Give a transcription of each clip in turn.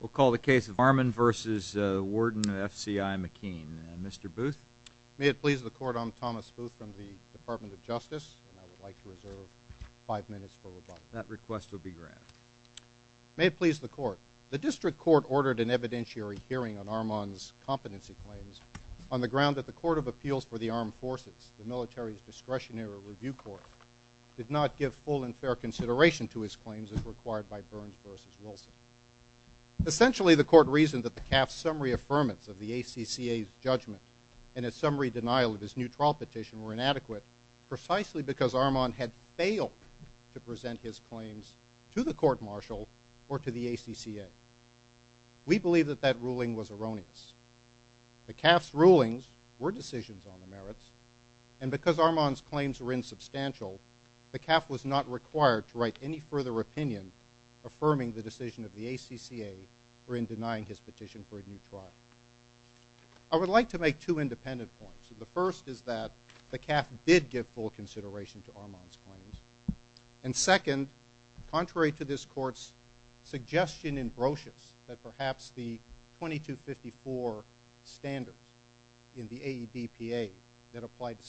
May it please the Court, I'm Thomas Booth from the Department of Justice, and I would like to reserve five minutes for rebuttal. That request will be granted. May it please the Court, the District Court ordered an evidentiary hearing on Armand's competency claims on the ground that the Court of Appeals for the Armed Forces, the Military's Discretionary Review Court, did not give full and fair consideration to his claims as required by Burns v. Wilson. Essentially, the Court reasoned that the CAF's summary affirmance of the ACCA's judgment and a summary denial of his new trial petition were inadequate precisely because Armand had failed to present his claims to the court-martial or to the ACCA. We believe that that ruling was erroneous. The CAF's rulings were decisions on the merits, and because Armand's claims were insubstantial, the CAF was not required to write any further opinion affirming the decision of the ACCA or in denying his petition for a new trial. I would like to make two independent points. The first is that the CAF did give full consideration to Armand's claims. And second, contrary to this Court's suggestion in Brocious that perhaps the 2254 standards in the AEDPA that applied to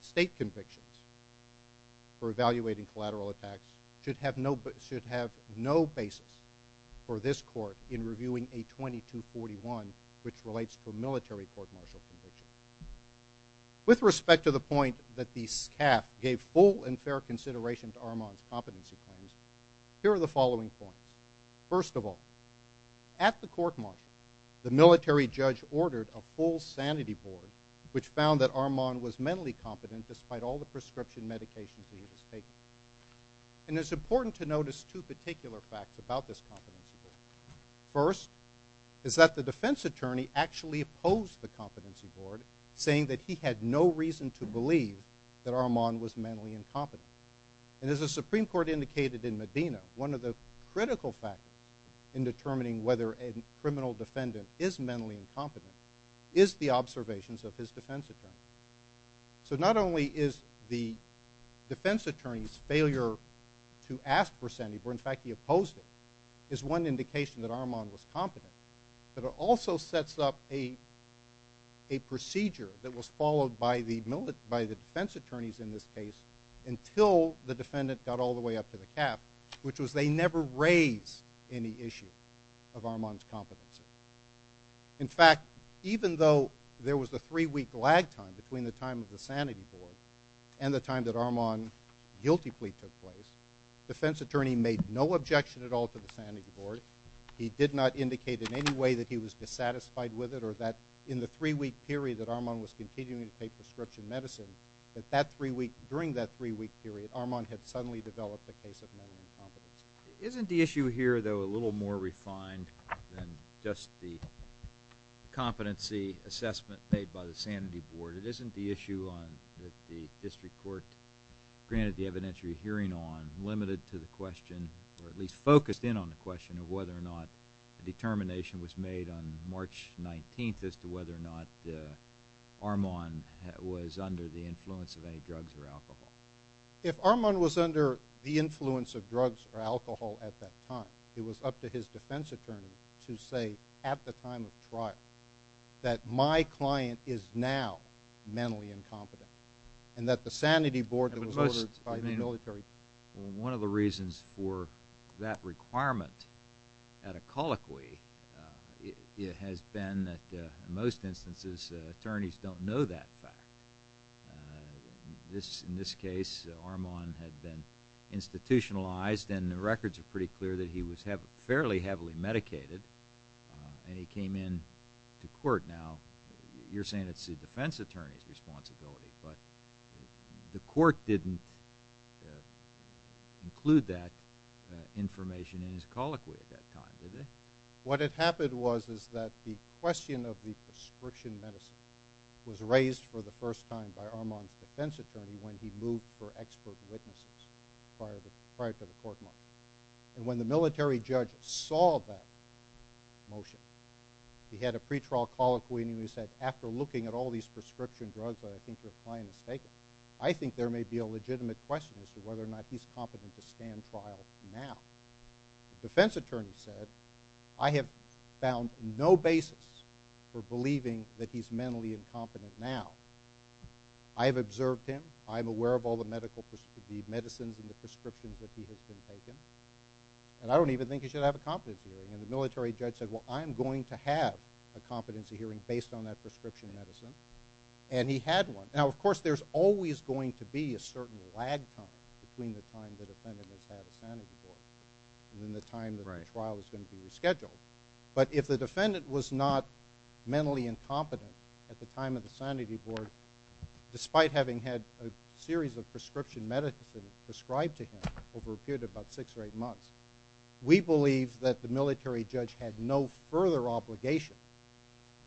state convictions for evaluating collateral attacks should have no basis for this Court in reviewing a 2241 which relates to a military court-martial conviction. With respect to the point that the CAF gave full and fair consideration to Armand's competency claims, here are the following points. First of all, at the court-martial, the military judge ordered a full sanity board which found that Armand was incompetent. And it's important to notice two particular facts about this competency board. First, is that the defense attorney actually opposed the competency board saying that he had no reason to believe that Armand was mentally incompetent. And as the Supreme Court indicated in Medina, one of the critical factors in determining whether a criminal defendant is mentally incompetent is the observations of his defense attorney. So not only is the defense attorney's failure to ask for sanity board, in fact he opposed it, is one indication that Armand was competent. But it also sets up a procedure that was followed by the defense attorneys in this case until the defendant got all the way up to the CAF, which was they never raised any issue of Armand's competency. In fact, even though there was the three-week lag time between the time of the sanity board and the time that Armand guilty plea took place, defense attorney made no objection at all to the sanity board. He did not indicate in any way that he was dissatisfied with it or that in the three-week period that Armand was continuing to take prescription medicine, that that three-week, during that three-week period, Armand had suddenly developed a case of mental incompetence. Isn't the issue here, though, a little more refined than just the competency assessment made by the sanity board? It isn't the issue that the district court granted the evidentiary hearing on, limited to the question, or at least focused in on the question of whether or not the determination was made on March 19th as to whether or not Armand was under the influence of any alcohol at that time. It was up to his defense attorney to say at the time of trial that my client is now mentally incompetent, and that the sanity board was ordered by the military. One of the reasons for that requirement at a colloquy has been that in most instances attorneys don't know that fact. This, in this case, Armand had been institutionalized and the records are pretty clear that he was fairly heavily medicated, and he came in to court. Now, you're saying it's the defense attorney's responsibility, but the court didn't include that information in his colloquy at that time, did it? What had happened was is that the question of the prescription medicine was raised for the first time by Armand's defense attorney when he moved for expert witnesses prior to the court march. And when the military judge saw that motion, he had a pretrial colloquy and he said, after looking at all these prescription drugs that I think your client has taken, I think there may be a legitimate question as to whether or not he's competent to mentally incompetent now. I have observed him. I'm aware of all the medical, the medicines and the prescriptions that he has been taking. And I don't even think he should have a competency hearing. And the military judge said, well, I'm going to have a competency hearing based on that prescription medicine. And he had one. Now, of course, there's always going to be a certain lag time between the time the defendant has had a sanity board and then the time the trial is going to be rescheduled. But if the defendant was not mentally incompetent at the time of the sanity board, despite having had a series of prescription medicine prescribed to him over a period of about six or eight months, we believe that the military judge had no further obligation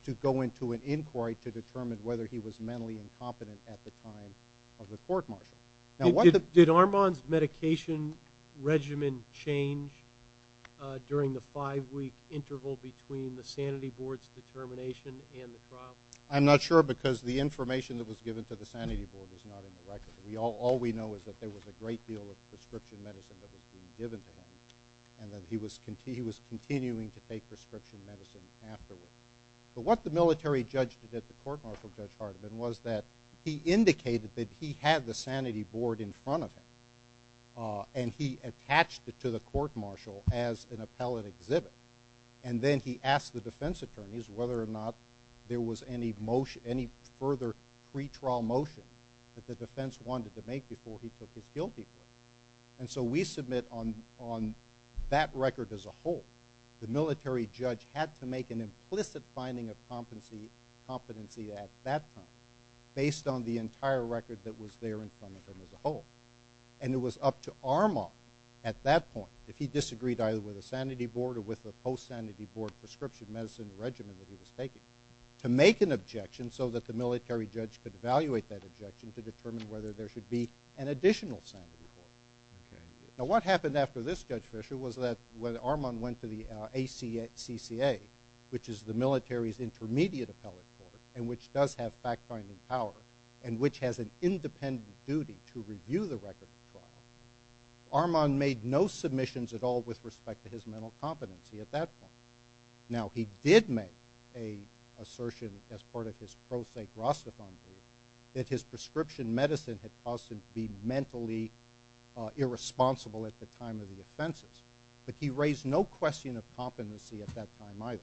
to go into an inquiry to determine whether he was mentally incompetent at the time of the court martial. Did Armand's medication regimen change during the five-week interval between the sanity board's determination and the trial? I'm not sure because the information that was given to the sanity board is not in the record. All we know is that there was a great deal of prescription medicine that was being given to him and that he was continuing to take prescription medicine afterward. But what the military judge did at the court martial, Judge Hardiman, was that he indicated that he had the sanity board in front of him and he attached it to the court martial as an appellate exhibit. And then he asked the defense attorneys whether or not there was any further pretrial motion that the defense wanted to make before he took his guilty plea. And so we submit on that record as a whole, the military judge had to make an implicit finding of competency at that time based on the entire record that was there in front of him as a whole. And it was up to Armand at that point, if he disagreed either with the sanity board or with the post-sanity board prescription medicine regimen that he was taking, to make an objection so that the military judge could evaluate that objection to determine whether there should be an additional sanity board. Now what happened after this, Judge Fisher, was that Armand went to the ACCA, which is the military's intermediate appellate court, and which does have fact-finding power and which has an independent duty to review the record of trial. Armand made no submissions at all with respect to his mental competency at that point. Now he did make an assertion as part of his pro se Rastafarian that his prescription medicine had caused him to be at that time either.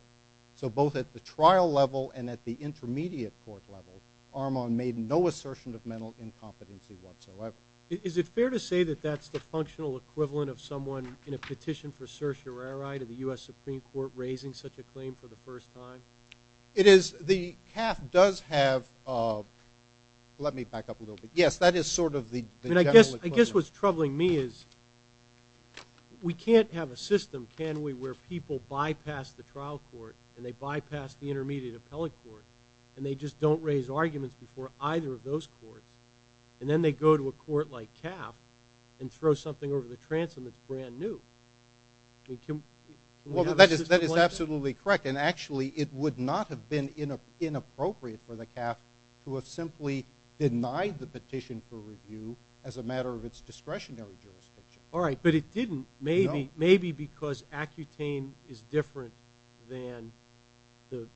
So both at the trial level and at the intermediate court level, Armand made no assertion of mental incompetency whatsoever. Is it fair to say that that's the functional equivalent of someone in a petition for certiorari to the U.S. Supreme Court raising such a claim for the first time? It is. The CAF does have, let me back up a little bit. Yes, that is sort of I guess what's troubling me is we can't have a system, can we, where people bypass the trial court and they bypass the intermediate appellate court and they just don't raise arguments before either of those courts and then they go to a court like CAF and throw something over the transom that's brand new. That is absolutely correct and actually it would not have been inappropriate for the CAF to have simply denied the petition for review as a matter of its discretionary jurisdiction. All right, but it didn't maybe because Accutane is different than the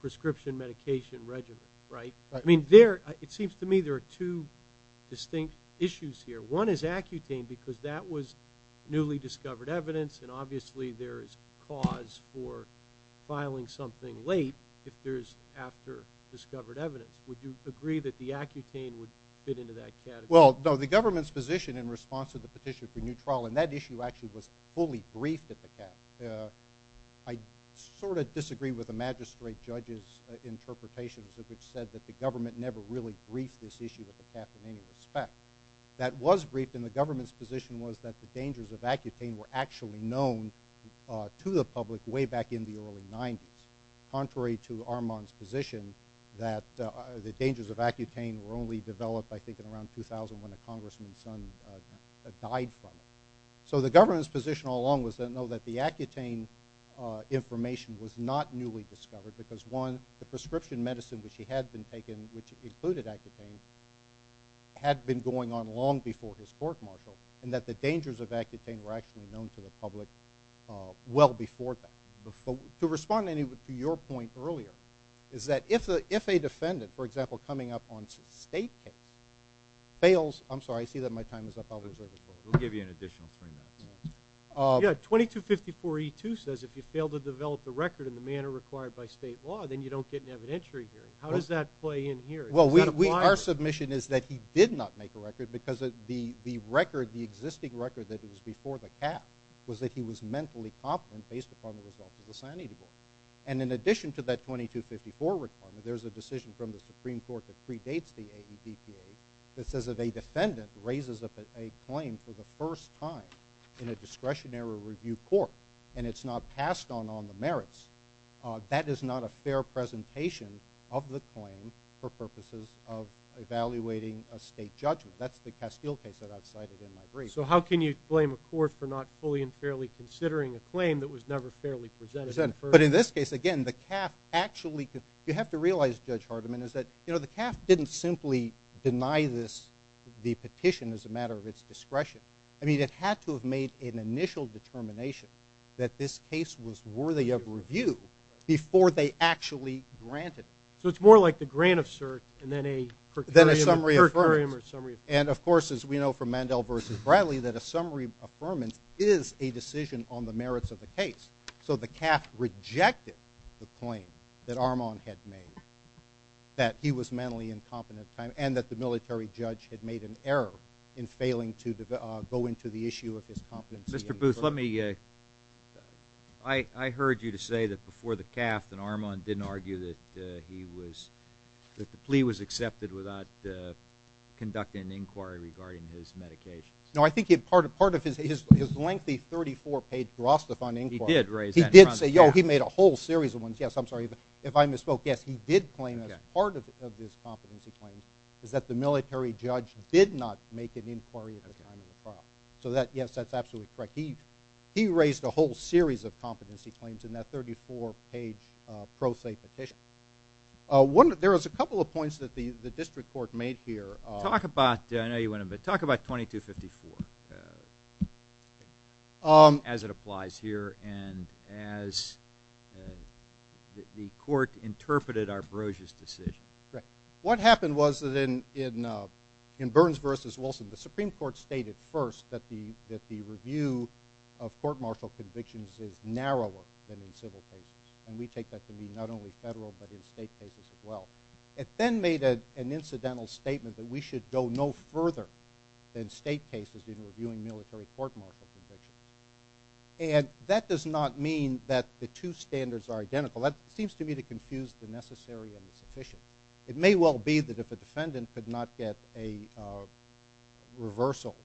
prescription medication regimen, right? I mean it seems to me there are two distinct issues here. One is Accutane because that was newly discovered evidence and obviously there is cause for filing something late if there is after discovered evidence. Would you agree that the Accutane would fit into that category? Well, no, the government's position in response to the petition for new trial and that issue actually was fully briefed at the CAF. I sort of disagree with the magistrate judge's interpretations of which said that the government never really briefed this issue with the CAF in any respect. That was briefed and the government's position was that the dangers of Accutane were actually known to the public way back in the early 90s. Contrary to Armand's position that the dangers of Accutane were only developed I think in around 2000 when a congressman's son died from it. So the government's position all along was to know that the Accutane information was not newly discovered because one, the prescription medicine which he had been taking which included Accutane had been going on long before his court-martial and that the dangers of Accutane were actually known to the public well before that. To respond to your point earlier is that if a defendant for example coming up on state case fails, I'm sorry I see that my time is up. We'll give you an additional three minutes. Yeah, 2254E2 says if you fail to develop the record in the manner required by state law then you don't get an evidentiary hearing. How does that play in here? Well, our submission is that he did not make a record because the record, the existing record that was before the cap was that he was mentally confident based upon the results of the sanity board. And in addition to that 2254 requirement there's a decision from the Supreme Court that predates the AEDPA that says if a defendant raises a claim for the first time in a discretionary review court and it's not passed on on the merits that is not a fair presentation of the claim for purposes of a state judgment. That's the Castile case that I've cited in my brief. So how can you blame a court for not fully and fairly considering a claim that was never fairly presented? But in this case again the CAF actually, you have to realize Judge Hardiman is that you know the CAF didn't simply deny this the petition as a matter of its discretion. I mean it had to have made an initial determination that this case was worthy of review before they actually granted it. So it's like the grant of cert and then a per curiam or summary. And of course as we know from Mandel versus Bradley that a summary affirmance is a decision on the merits of the case. So the CAF rejected the claim that Armand had made that he was mentally incompetent at the time and that the military judge had made an error in failing to go into the issue of his competency. Mr. Booth let me uh I heard you to say that before the CAF that Armand didn't argue that he was that the plea was accepted without conducting an inquiry regarding his medications. No I think he had part of part of his his lengthy 34 page Rostefan inquiry. He did raise that. He did say yo he made a whole series of ones yes I'm sorry but if I misspoke yes he did claim as part of his competency claims is that the military judge did not make an inquiry at the time of the trial. So that yes that's absolutely correct. He he raised a whole series of competency claims in that 34 page pro se petition. One there was a couple of points that the the district court made here. Talk about I know you want to but talk about 2254 as it applies here and as the court interpreted Arbroge's decision. Right what happened was that in in Burns versus Wilson the Supreme Court stated first that the review of court martial convictions is narrower than in civil cases and we take that to mean not only federal but in state cases as well. It then made an incidental statement that we should go no further than state cases in reviewing military court martial convictions and that does not mean that the two standards are identical. That seems to me to confuse the necessary and the sufficient. It may well be that if a defendant could not get a reversal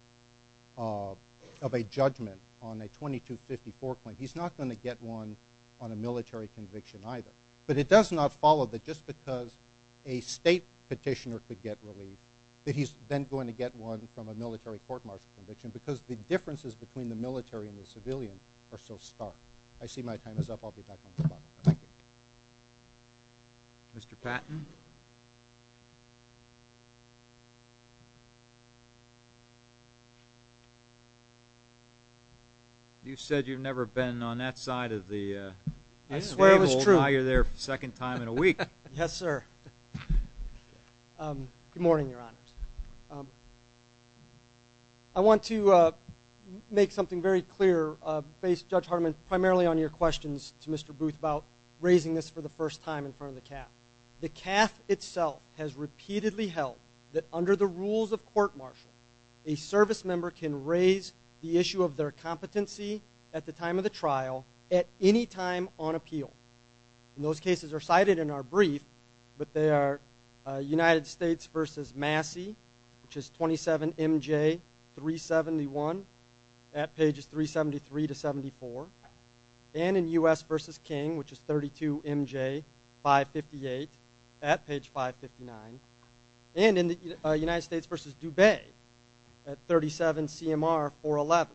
of a judgment on a 2254 claim he's not going to get one on a military conviction either. But it does not follow that just because a state petitioner could get relieved that he's then going to get one from a military court martial conviction because the differences between the military and the civilian are so stark. I see my time is up I'll be back on the clock. Thank you. Mr. Patton. You said you've never been on that side of the uh. I swear it was true. Now you're there second time in a week. Yes sir. Good morning your honors. I want to uh make something very clear uh based Judge Hardiman primarily on your questions to Mr. Booth about raising this for the first time in front of the CAF. The CAF itself has repeatedly held that under the rules of court martial a service member can raise the issue of their competency at the time of the trial at any time on appeal. Those cases are cited in our brief but they are United States versus Massey which is 27 MJ 371 at pages 373 to 74 and in U.S. versus King which is 32 MJ 558 at page 559 and in the United States versus Dube at 37 CMR 411.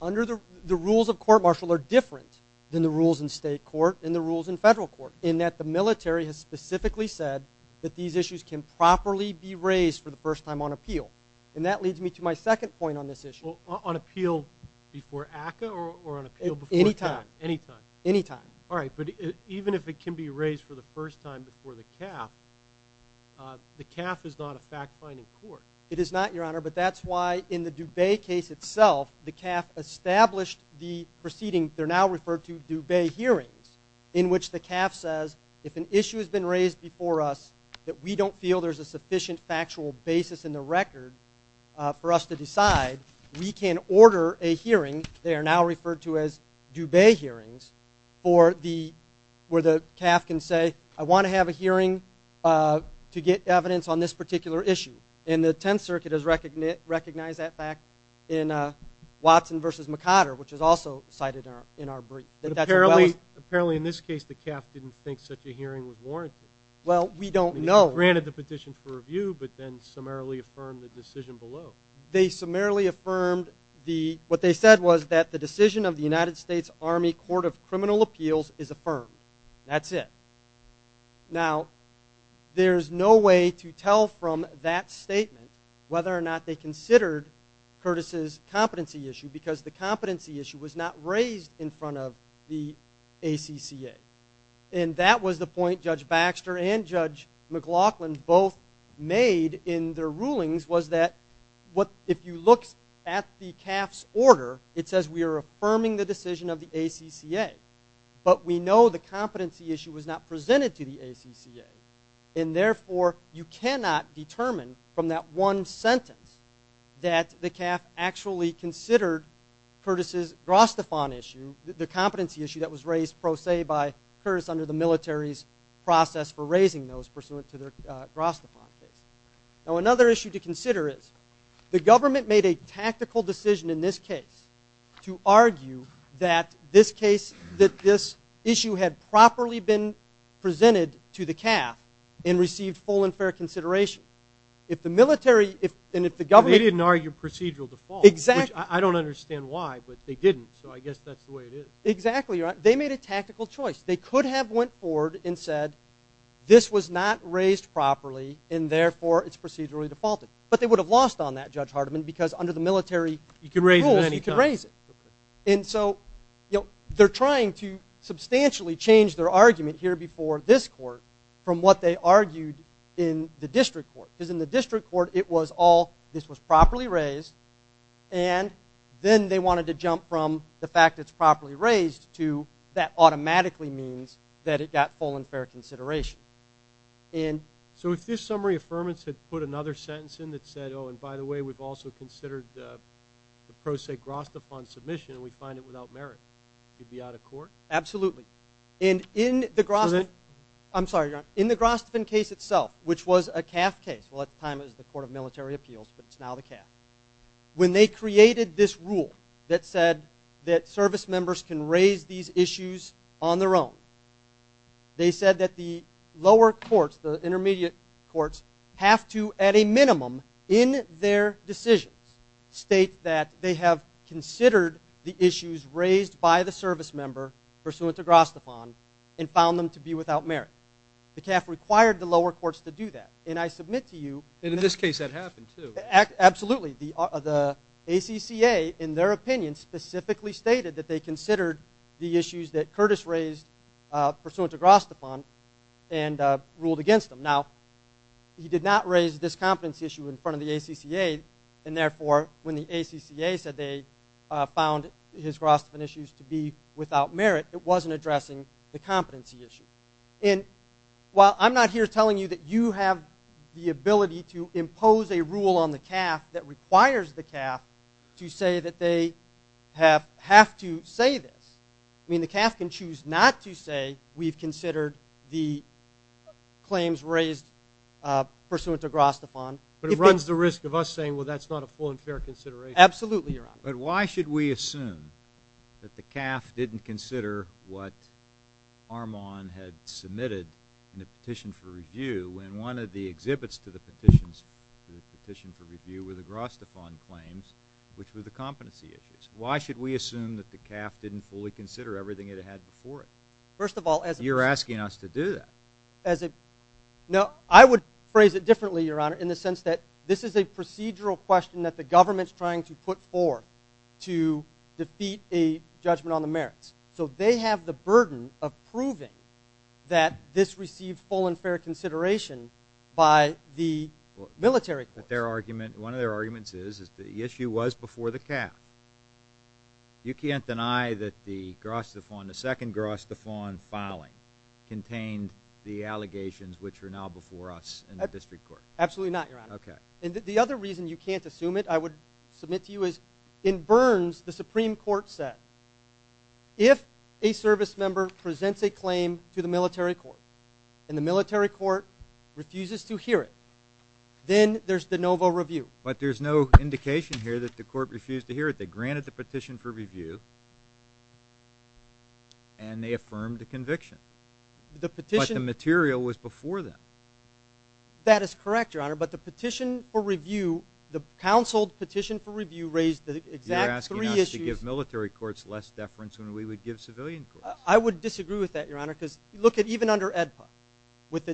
Under the the rules of court martial are different than the rules in state court and the rules in federal court in that the military has specifically said that these issues can properly be raised for the first time on appeal and that leads me to my second point on this issue. On appeal before ACA or on appeal before time? Anytime. Anytime. All right but even if it can be raised for the first time before the CAF uh the CAF is not a fact-finding court. It is not your honor but that's why in the Dube case itself the CAF established the proceeding they're now referred to Dube hearings in which the CAF says if an issue has been raised before us that we don't feel there's a sufficient factual basis in the record for us to decide we can order a hearing they are now referred to as Dube hearings for the where the CAF can say I want to have a hearing uh to get evidence on this particular issue and the 10th circuit has recognized that fact in uh Watson versus McCotter which is also cited in our brief. Apparently in this case the CAF didn't think such a hearing was warranted. Well we don't know. Granted the petition for review but then summarily affirmed the decision below. They summarily affirmed the what they said was that the decision of the United States Army Court of Criminal Appeals is affirmed. That's it. Now there's no way to tell from that statement whether or not they considered Curtis's competency issue because the competency issue was not raised in front of the ACCA and that was the point Judge Baxter and Judge McLaughlin both made in their rulings was that what if you look at the CAF's order it says we are affirming the decision of the ACCA but we know the competency issue was not presented to the ACCA and therefore you cannot determine from that one sentence that the CAF actually considered Curtis's Grostefan issue the competency issue that was raised pro se by Curtis under the military's process for raising those pursuant to their Grostefan case. Now another issue to consider is the government made a tactical decision in this case to argue that this case that this issue had properly been presented to the CAF and received full and exact I don't understand why but they didn't so I guess that's the way it is exactly right they made a tactical choice they could have went forward and said this was not raised properly and therefore it's procedurally defaulted but they would have lost on that Judge Hardeman because under the military you can raise it anytime you can raise it and so you know they're trying to substantially change their argument here before this court from what they argued in the district court because in the district court it was all this was properly raised and then they wanted to jump from the fact it's properly raised to that automatically means that it got full and fair consideration. So if this summary affirmance had put another sentence in that said oh and by the way we've also considered the pro se Grostefan submission and we find it without merit you'd be out of court? Absolutely and in the Grostefan case itself which was a CAF case well at the time it was the court of military appeals but it's now the CAF when they created this rule that said that service members can raise these issues on their own they said that the lower courts the intermediate courts have to at a minimum in their decisions state that they have considered the issues raised by the service member pursuant to Grostefan and found them to be without merit. The CAF required the lower courts to do that and I submit to you and in this case that happened too absolutely the the ACCA in their opinion specifically stated that they considered the issues that Curtis raised pursuant to Grostefan and ruled against them. Now he did not raise this competency issue in front of the ACCA and therefore when the ACCA said they found his Grostefan issues to be without merit it wasn't addressing the competency issue and while I'm not here telling you that you have the ability to impose a rule on the CAF that requires the CAF to say that they have to say this I mean the CAF can choose not to say we've considered the claims raised pursuant to Grostefan. But it runs the risk of us saying well that's not a full and fair consideration. Absolutely your honor. But why should we assume that the CAF didn't consider what Armand had submitted in the petition for review when one of the exhibits to the petitions to the petition for review were the Grostefan claims which were the competency issues. Why should we assume that the CAF didn't fully consider everything it had before it? First of all as you're asking us to do that as a no I would phrase it differently your honor in the sense that this is a procedural question that the government's trying to put forth to defeat a judgment on the merits so they have the burden of proving that this received full and fair consideration by the military. But their argument one of their arguments is is the issue was before the CAF. You can't deny that the Grostefan the second Grostefan filing contained the allegations which are now before us in the military. You can't assume it. I would submit to you as in Burns the Supreme Court said if a service member presents a claim to the military court and the military court refuses to hear it then there's de novo review. But there's no indication here that the court refused to hear it. They granted the petition for review and they affirmed the conviction. The petition material was before them. That is correct your honor but the petition for review the counseled petition for review raised the exact three issues. You're asking us to give military courts less deference when we would give civilian courts. I would disagree with that your honor because look at even under AEDPA with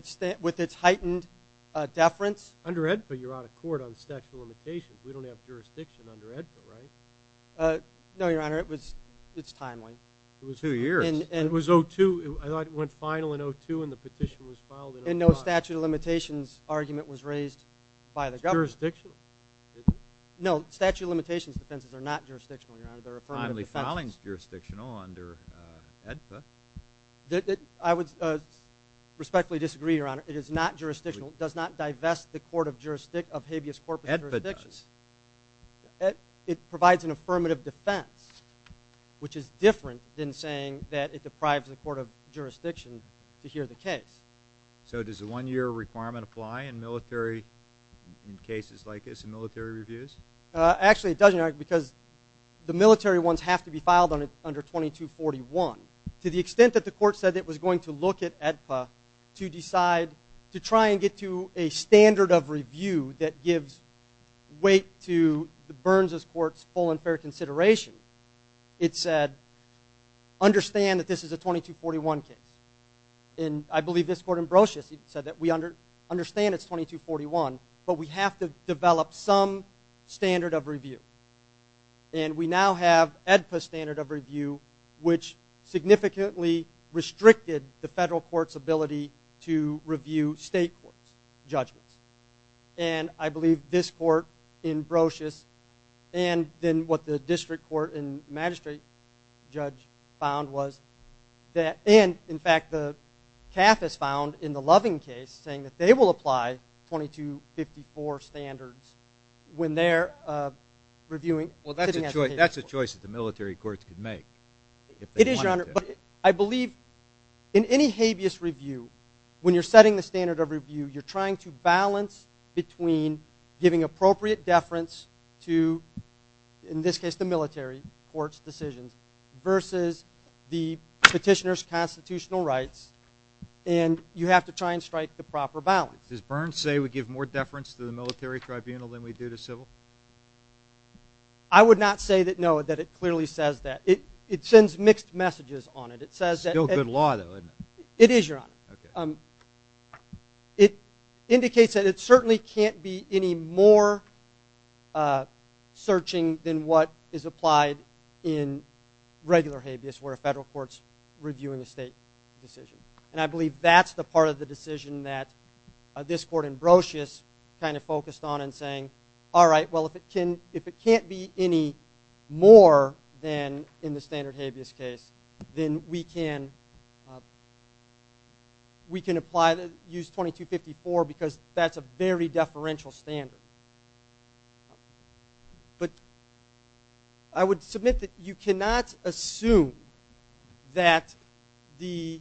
its heightened uh deference. Under AEDPA you're out of court on statute of limitations. We don't have jurisdiction under AEDPA right? Uh no your honor it was it's timely. It was two years and it was I thought it went final in 0-2 and the petition was filed in 0-5. And no statute of limitations argument was raised by the government. It's jurisdictional isn't it? No statute of limitations defenses are not jurisdictional your honor. They're affirmative. Finally filing is jurisdictional under AEDPA. I would respectfully disagree your honor. It is not jurisdictional. It does not divest the court of jurisdiction of habeas corpus jurisdictions. AEDPA does. It provides an affirmative defense which is different than saying that it deprives the court of jurisdiction to hear the case. So does the one-year requirement apply in military in cases like this in military reviews? Uh actually it doesn't because the military ones have to be filed on it under 2241. To the extent that the court said it was going to look at AEDPA to decide to try and get to a standard of review that gives weight to the Burns's court's full and fair consideration. It said understand that this is a 2241 case. And I believe this court in Brocious said that we under understand it's 2241 but we have to develop some standard of review. And we now have AEDPA standard of review which significantly restricted the federal court's ability to review state courts judgments. And I believe this court in Brocious and then what the district court and magistrate judge found was that and in fact the CAF has found in the Loving case saying that they will apply 2254 standards when they're uh reviewing. Well that's a choice that the military courts could make. It is your honor but I believe in any habeas review when you're setting the standard of review you're trying to balance between giving appropriate deference to in this case the military court's decisions versus the petitioner's constitutional rights and you have to try and strike the proper balance. Does Burns say we give more deference to the military tribunal than we do to civil? I would not say that no that it clearly says that. It it sends mixed messages on it. It says. Still good law though isn't it? It is your honor. Okay. It indicates that it certainly can't be any more uh searching than what is applied in regular habeas where a federal court's reviewing a state decision. And I believe that's the part of the decision that this court in Brocious kind of focused on and saying all right well if it can if it can't be any more than in the then we can we can apply the use 2254 because that's a very deferential standard. But I would submit that you cannot assume that the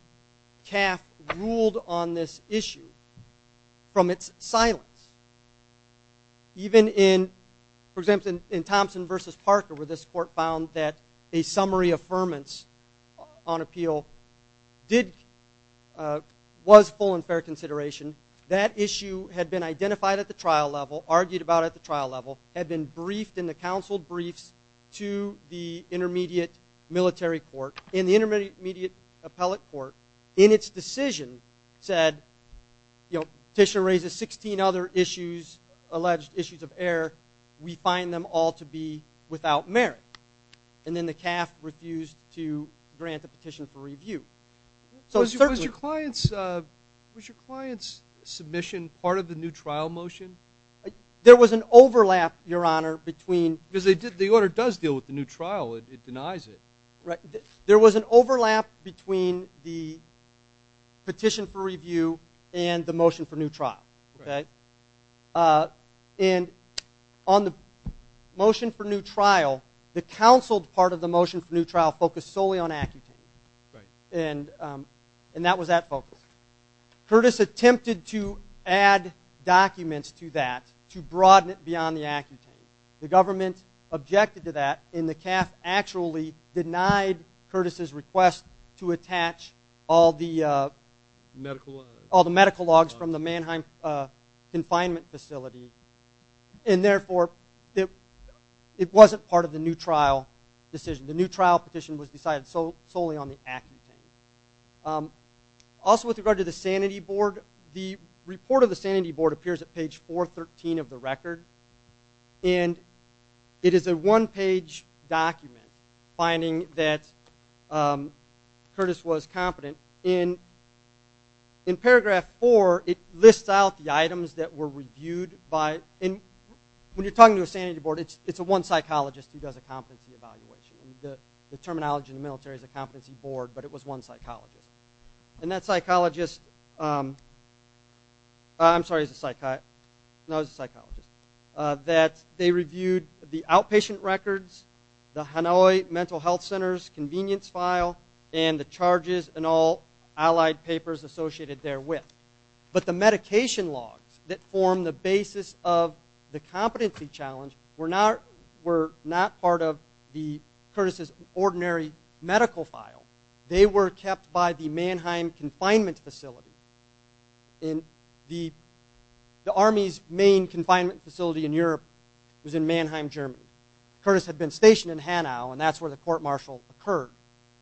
CAF ruled on this issue from its silence. Even in for example in Thompson versus Parker where this court found that a summary affirmance on appeal did uh was full and fair consideration that issue had been identified at the trial level argued about at the trial level had been briefed in the counsel briefs to the intermediate military court in the intermediate appellate court in its decision said you know petitioner raises 16 other issues alleged issues of error we find them all to be without merit. And then the CAF refused to grant a petition for review. Was your client's uh was your client's submission part of the new trial motion? There was an overlap your honor between because they did the order does deal with the new trial it denies it right there was an overlap between the petition for review and the motion for new trial okay uh and on the motion for new trial the counseled part of the motion for new trial focused solely on accutane right and um and that was that focus. Curtis attempted to add documents to that to broaden it beyond the accutane. The to attach all the uh medical all the medical logs from the Mannheim uh confinement facility and therefore it it wasn't part of the new trial decision the new trial petition was decided so solely on the accutane. Also with regard to the sanity board the report of the sanity board appears at page 413 of the record and it is a one-page document finding that um Curtis was competent in in paragraph four it lists out the items that were reviewed by and when you're talking to a sanity board it's it's a one psychologist who does a competency evaluation the terminology in the military is a competency board but it was one psychologist and that psychologist um I'm sorry he's a psychiatrist no he's a psychologist uh that they reviewed the outpatient records the Hanoi mental health center's convenience file and the charges and all allied papers associated therewith but the medication logs that form the basis of the competency challenge were not were not part of the Curtis's ordinary medical file they were kept by the Mannheim confinement facility in the the army's main confinement facility in Europe was in Mannheim Germany. Curtis had been stationed in Hanau and that's where the court-martial occurred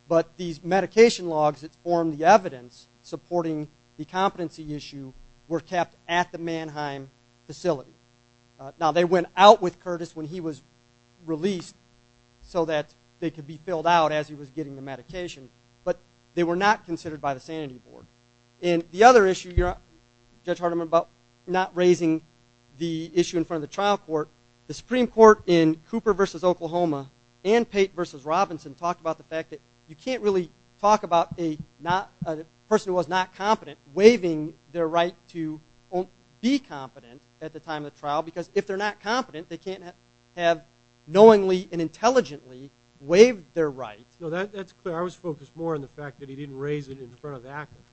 but these medication logs that form the evidence supporting the competency issue were kept at the Mannheim facility. Now they went out with Curtis when he was released so that they could be filled out as he was getting the medication but they were not considered by the sanity board and the other issue you're Judge Hardiman about not raising the issue in front of the trial court the Supreme Court in Cooper versus Oklahoma and Pate versus Robinson talked about the fact that you can't really talk about a not a person who was not competent waiving their right to be competent at the time of the trial because if they're not competent they can't have knowingly and intelligently waived their right. No that that's clear I was focused more on the fact that he didn't raise it in front of the applicant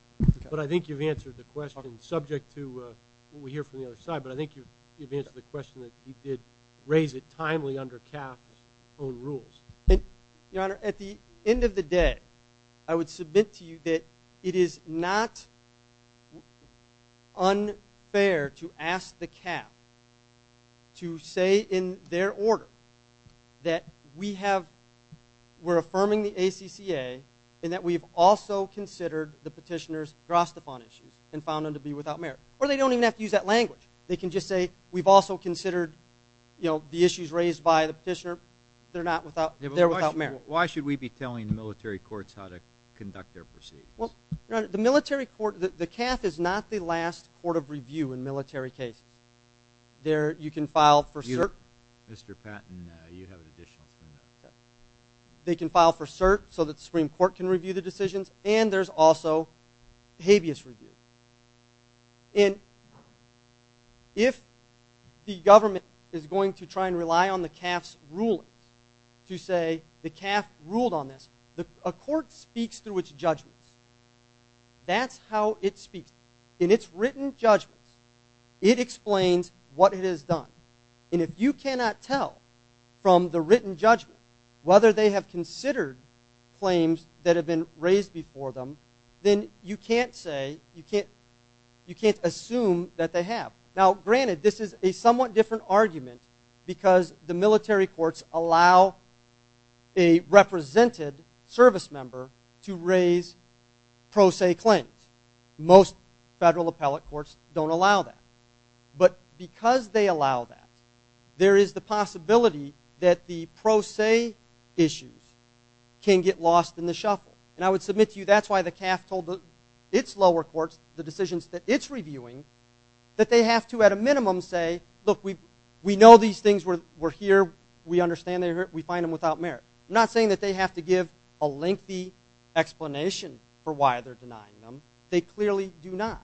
but I think you've answered the question subject to what we hear from the other side but I think you've answered the question that he did raise it timely under CAF's own rules. Your honor at the end of the day I would submit to you that it is not unfair to ask the CAF to say in their order that we have we're affirming the ACCA and that we've also considered the petitioners drastophone issues and found them to be without merit or they don't even have to use that language they can just say we've also considered you know the issues raised by the petitioner they're not without they're without merit. Why should we be telling the Well your honor the military court the CAF is not the last court of review in military cases there you can file for cert. Mr. Patton you have additional. They can file for cert so that the Supreme Court can review the decisions and there's also habeas review and if the government is going to try and rely on the CAF's rulings to say the CAF ruled on this the court speaks through its judgments that's how it speaks in its written judgments it explains what it has done and if you cannot tell from the written judgment whether they have considered claims that have been raised before them then you can't say you can't you can't assume that they have. Now granted this is a somewhat different argument because the military courts allow a represented service member to raise pro se claims most federal appellate courts don't allow that but because they allow that there is the possibility that the pro se issues can get lost in the shuffle and I would submit to you that's why the CAF told the its lower courts the decisions that it's reviewing that they have to at a minimum say look we we know these things were here we understand they're here we find them without merit I'm not saying that they have to give a lengthy explanation for why they're denying them they clearly do not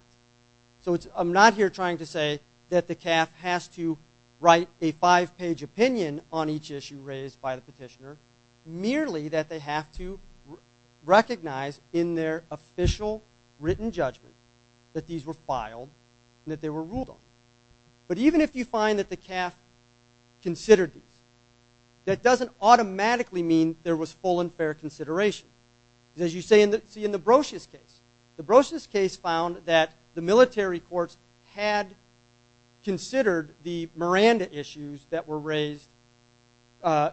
so it's I'm not here trying to say that the CAF has to write a five-page opinion on each issue raised by the petitioner merely that they have to recognize in their official written judgment that these were filed and that they were ruled on but even if you find that the CAF considered these that doesn't automatically mean there was full and fair consideration as you say in the see in the Brocious case the Brocious case found that the military courts had considered the Miranda issues that were raised by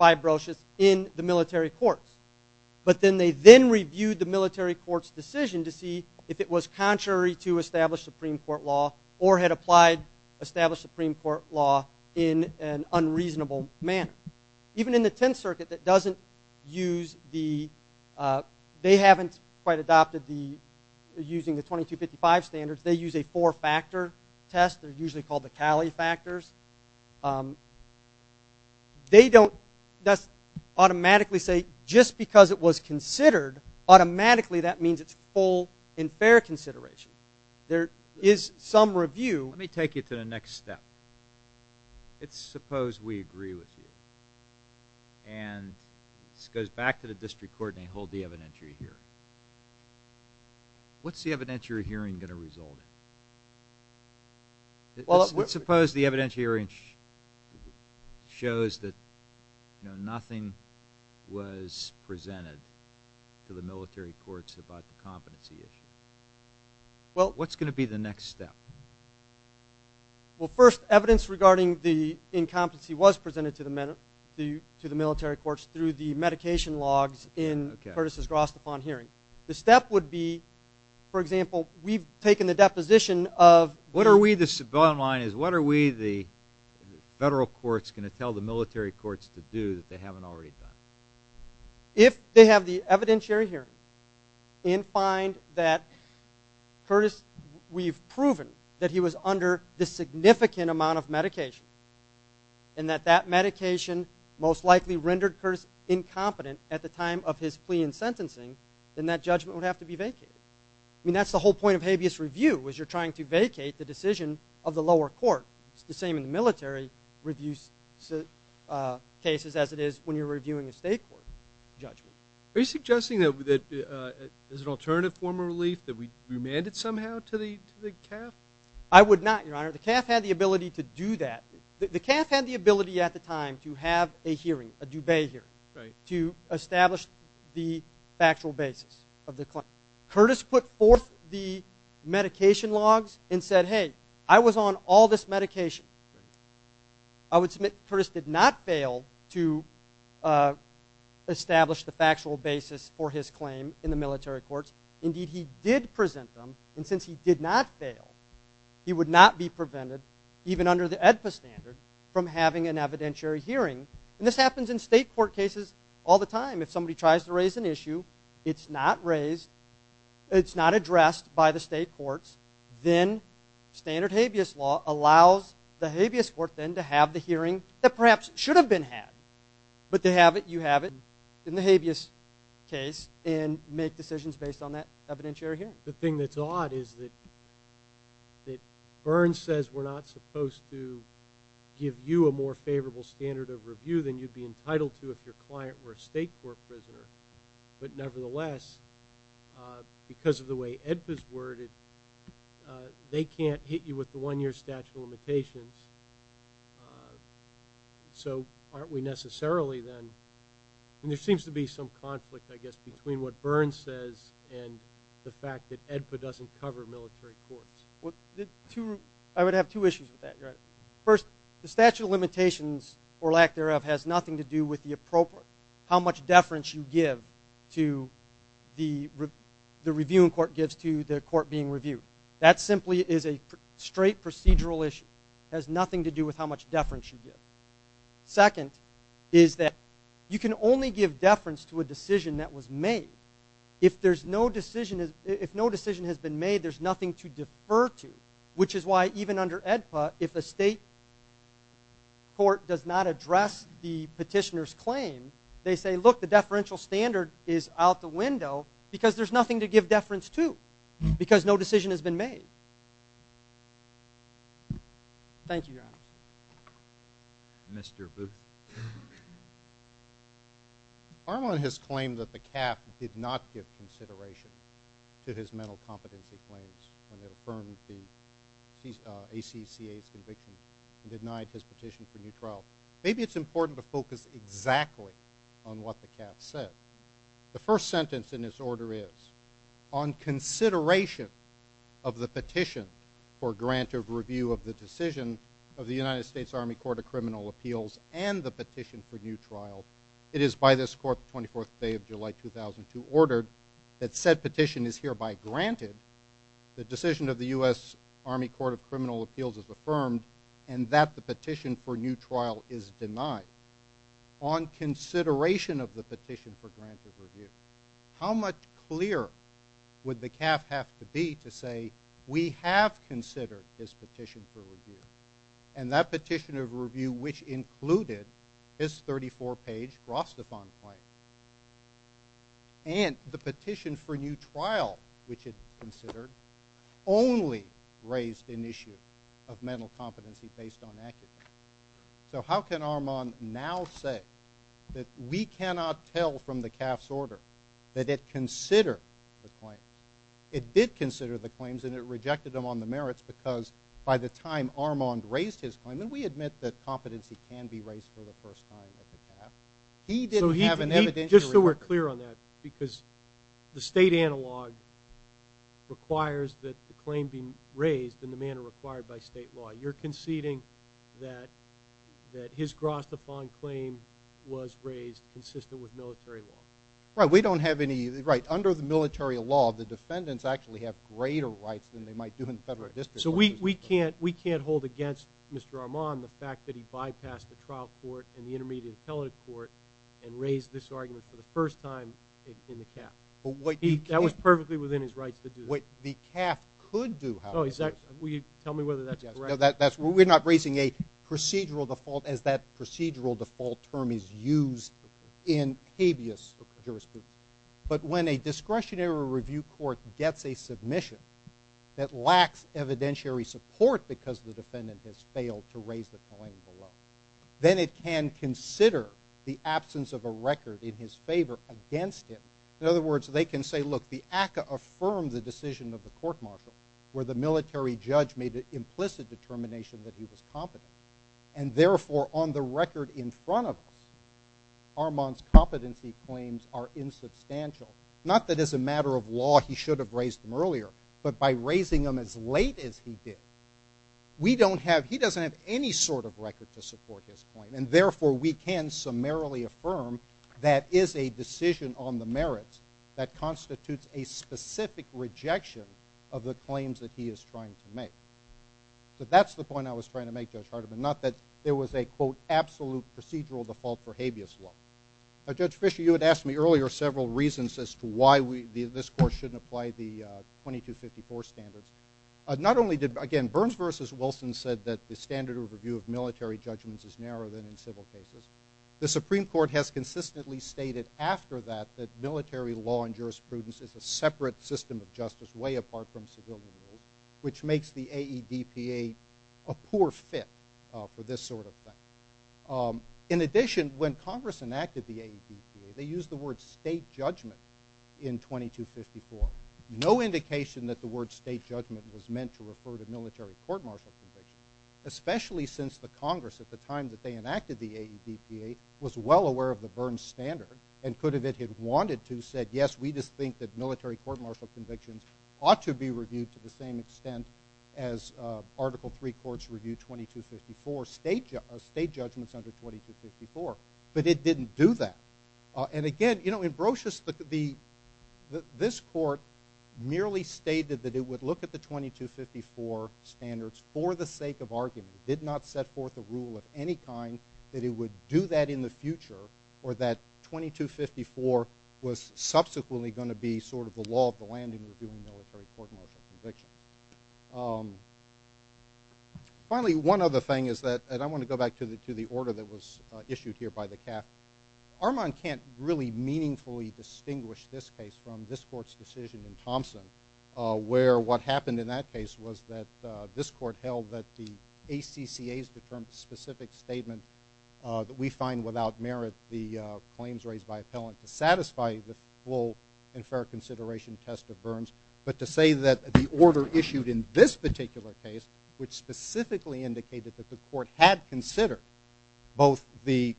Brocious in the military courts but then they then reviewed the military court's decision to see if it was contrary to established supreme court law or had applied established supreme court law in an unreasonable manner even in the 10th circuit that doesn't use the they haven't quite adopted the using the 2255 standards they use a four-factor test they're usually called the Cali factors um they don't that's automatically say just because it was considered automatically that means it's full and fair consideration there is some review let me take you to the next step it's suppose we agree with you and this goes back to the district court and hold the evidentiary hearing what's the evidentiary hearing going to result in suppose the evidentiary shows that you know nothing was presented to the military courts about the competency issue well what's going to be the next step well first evidence regarding the incompetency was presented to the men to the military courts through the medication logs in Curtis's Grost upon hearing the step would be for example we've taken the deposition of what we the bottom line is what are we the federal courts going to tell the military courts to do that they haven't already done if they have the evidentiary hearing and find that Curtis we've proven that he was under the significant amount of medication and that that medication most likely rendered Curtis incompetent at the time of his plea and sentencing then that judgment would have to be vacated I mean that's the whole point of habeas review was you're trying to vacate the decision of the lower court it's the same in the military reviews cases as it is when you're reviewing a state court judgment are you suggesting that that is an alternative form of relief that we remanded somehow to the to the CAF I would not your honor the CAF had the ability to do that the CAF had the ability at the time to have a hearing a dubay here right to establish the factual basis of the claim Curtis put forth the medication logs and said hey I was on all this medication I would submit Curtis did not fail to establish the factual basis for his claim in the military courts indeed he did present them and since he did not fail he would not be prevented even under the EDPA standard from having an evidentiary hearing and this happens in state court cases all the time if somebody tries to raise an issue it's not raised it's not addressed by the state courts then standard habeas law allows the habeas court then to have the hearing that perhaps should have been had but they have it you have it in the habeas case and make decisions based on that evidentiary hearing the thing that's odd is that that Byrne says we're not supposed to give you a more favorable standard of review than you'd be entitled to if your client were a state court prisoner but nevertheless because of the way EDPA's worded they can't hit you with the one-year statute of limitations so aren't we necessarily then and there seems to be some conflict I guess between what Byrne says and the fact that EDPA doesn't cover military courts well the two I would have two issues with that you're right first the statute of limitations or lack thereof has nothing to do with the appropriate how much deference you give to the the reviewing court gives to the court being reviewed that simply is a straight procedural issue has nothing to do with how much deference you give second is that you can only give deference to a decision that was made if there's no decision is if no decision has been made there's nothing to defer to which is why even under EDPA if a state court does not address the petitioner's claim they say look the deferential standard is out the window because there's nothing to give deference to because no decision has been made thank you your honor Mr. Booth Armand has claimed that the CAF did not give consideration to his mental competency claims when it affirmed the ACCA's conviction and denied his petition for new trial maybe it's important to focus exactly on what the CAF said the first sentence in this order is on consideration of the petition for grant of review of the decision of the United States Army Court of it is by this court the 24th day of July 2002 ordered that said petition is hereby granted the decision of the U.S. Army Court of Criminal Appeals is affirmed and that the petition for new trial is denied on consideration of the petition for granted review how much clearer would the CAF have to be to say we have considered this petition for review and that petition of review which included his 34-page Rostefan claim and the petition for new trial which it considered only raised an issue of mental competency based on accuracy so how can Armand now say that we cannot tell from the CAF's order that it considered the claims it did consider the claims and it rejected them on the merits because by the time Armand raised his claim and we admit that competency can be raised for the first time at the CAF he didn't have an evidence just so we're clear on that because the state analog requires that the claim be raised in the manner required by state law you're conceding that that his Rostefan claim was raised consistent with military law right we don't have any right under the military law the defendants actually have greater rights than they might do in the federal district so we we can't we can't hold against Mr. Armand the fact that he bypassed the trial court and the intermediate appellate court and raised this argument for the first time in the CAF but what that was perfectly within his rights to do what the CAF could do how exactly will you tell me whether that's correct that's we're not raising a procedural default as that procedural default term is used in habeas jurisprudence but when a discretionary review court gets a submission that lacks evidentiary support because the defendant has failed to raise the claim below then it can consider the absence of a record in his favor against him in other words they can say look the ACA affirmed the decision of the court marshal where the military judge made an implicit determination that he was competent and therefore on the record in front of us Armand's competency claims are insubstantial not that as a matter of law he should have raised them earlier but by raising them as late as he did we don't have he doesn't have any sort of record to support his point and therefore we can summarily affirm that is a decision on the merits that constitutes a specific rejection of the claims that he is trying to make so that's the point I was trying to make Judge Hardiman not that there was a quote absolute procedural default for habeas law. Judge Fisher you had asked me earlier several reasons as to why we this course shouldn't apply the 2254 standards not only did again Burns versus Wilson said that the standard overview of military judgments is narrower than in civil cases the Supreme Court has consistently stated after that that military law and jurisprudence is a which makes the AEDPA a poor fit for this sort of thing in addition when Congress enacted the AEDPA they used the word state judgment in 2254 no indication that the word state judgment was meant to refer to military court martial convictions especially since the Congress at the time that they enacted the AEDPA was well aware of the Burns standard and could have it had wanted to said yes we just think that military court martial convictions ought to be reviewed to the same extent as article 3 courts review 2254 state judgments under 2254 but it didn't do that and again you know in Brocious the this court merely stated that it would look at the 2254 standards for the sake of argument did not set forth a rule of any kind that it would do that in the future or that 2254 was subsequently going to be sort of the law of the land in reviewing military court martial convictions finally one other thing is that and I want to go back to the to the order that was issued here by the CAF Armand can't really meaningfully distinguish this case from this court's decision in Thompson where what happened in that case was that this court held that the ACCA's determined specific statement that we find without merit the claims raised by appellant to satisfy the full and fair consideration test of Burns but to say that the order issued in this particular case which specifically indicated that the court had considered both the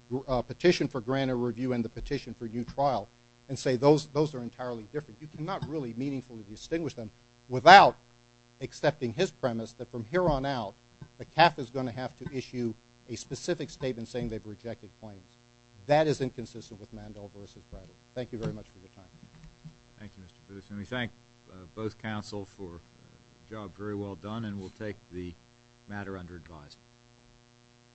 petition for granted review and the petition for new trial and say those those entirely different you cannot really meaningfully distinguish them without accepting his premise that from here on out the CAF is going to have to issue a specific statement saying they've rejected claims that is inconsistent with Mandel versus Bradley thank you very much for your time thank you Mr. Pritchett we thank both counsel for job very well done and we'll take the matter under advice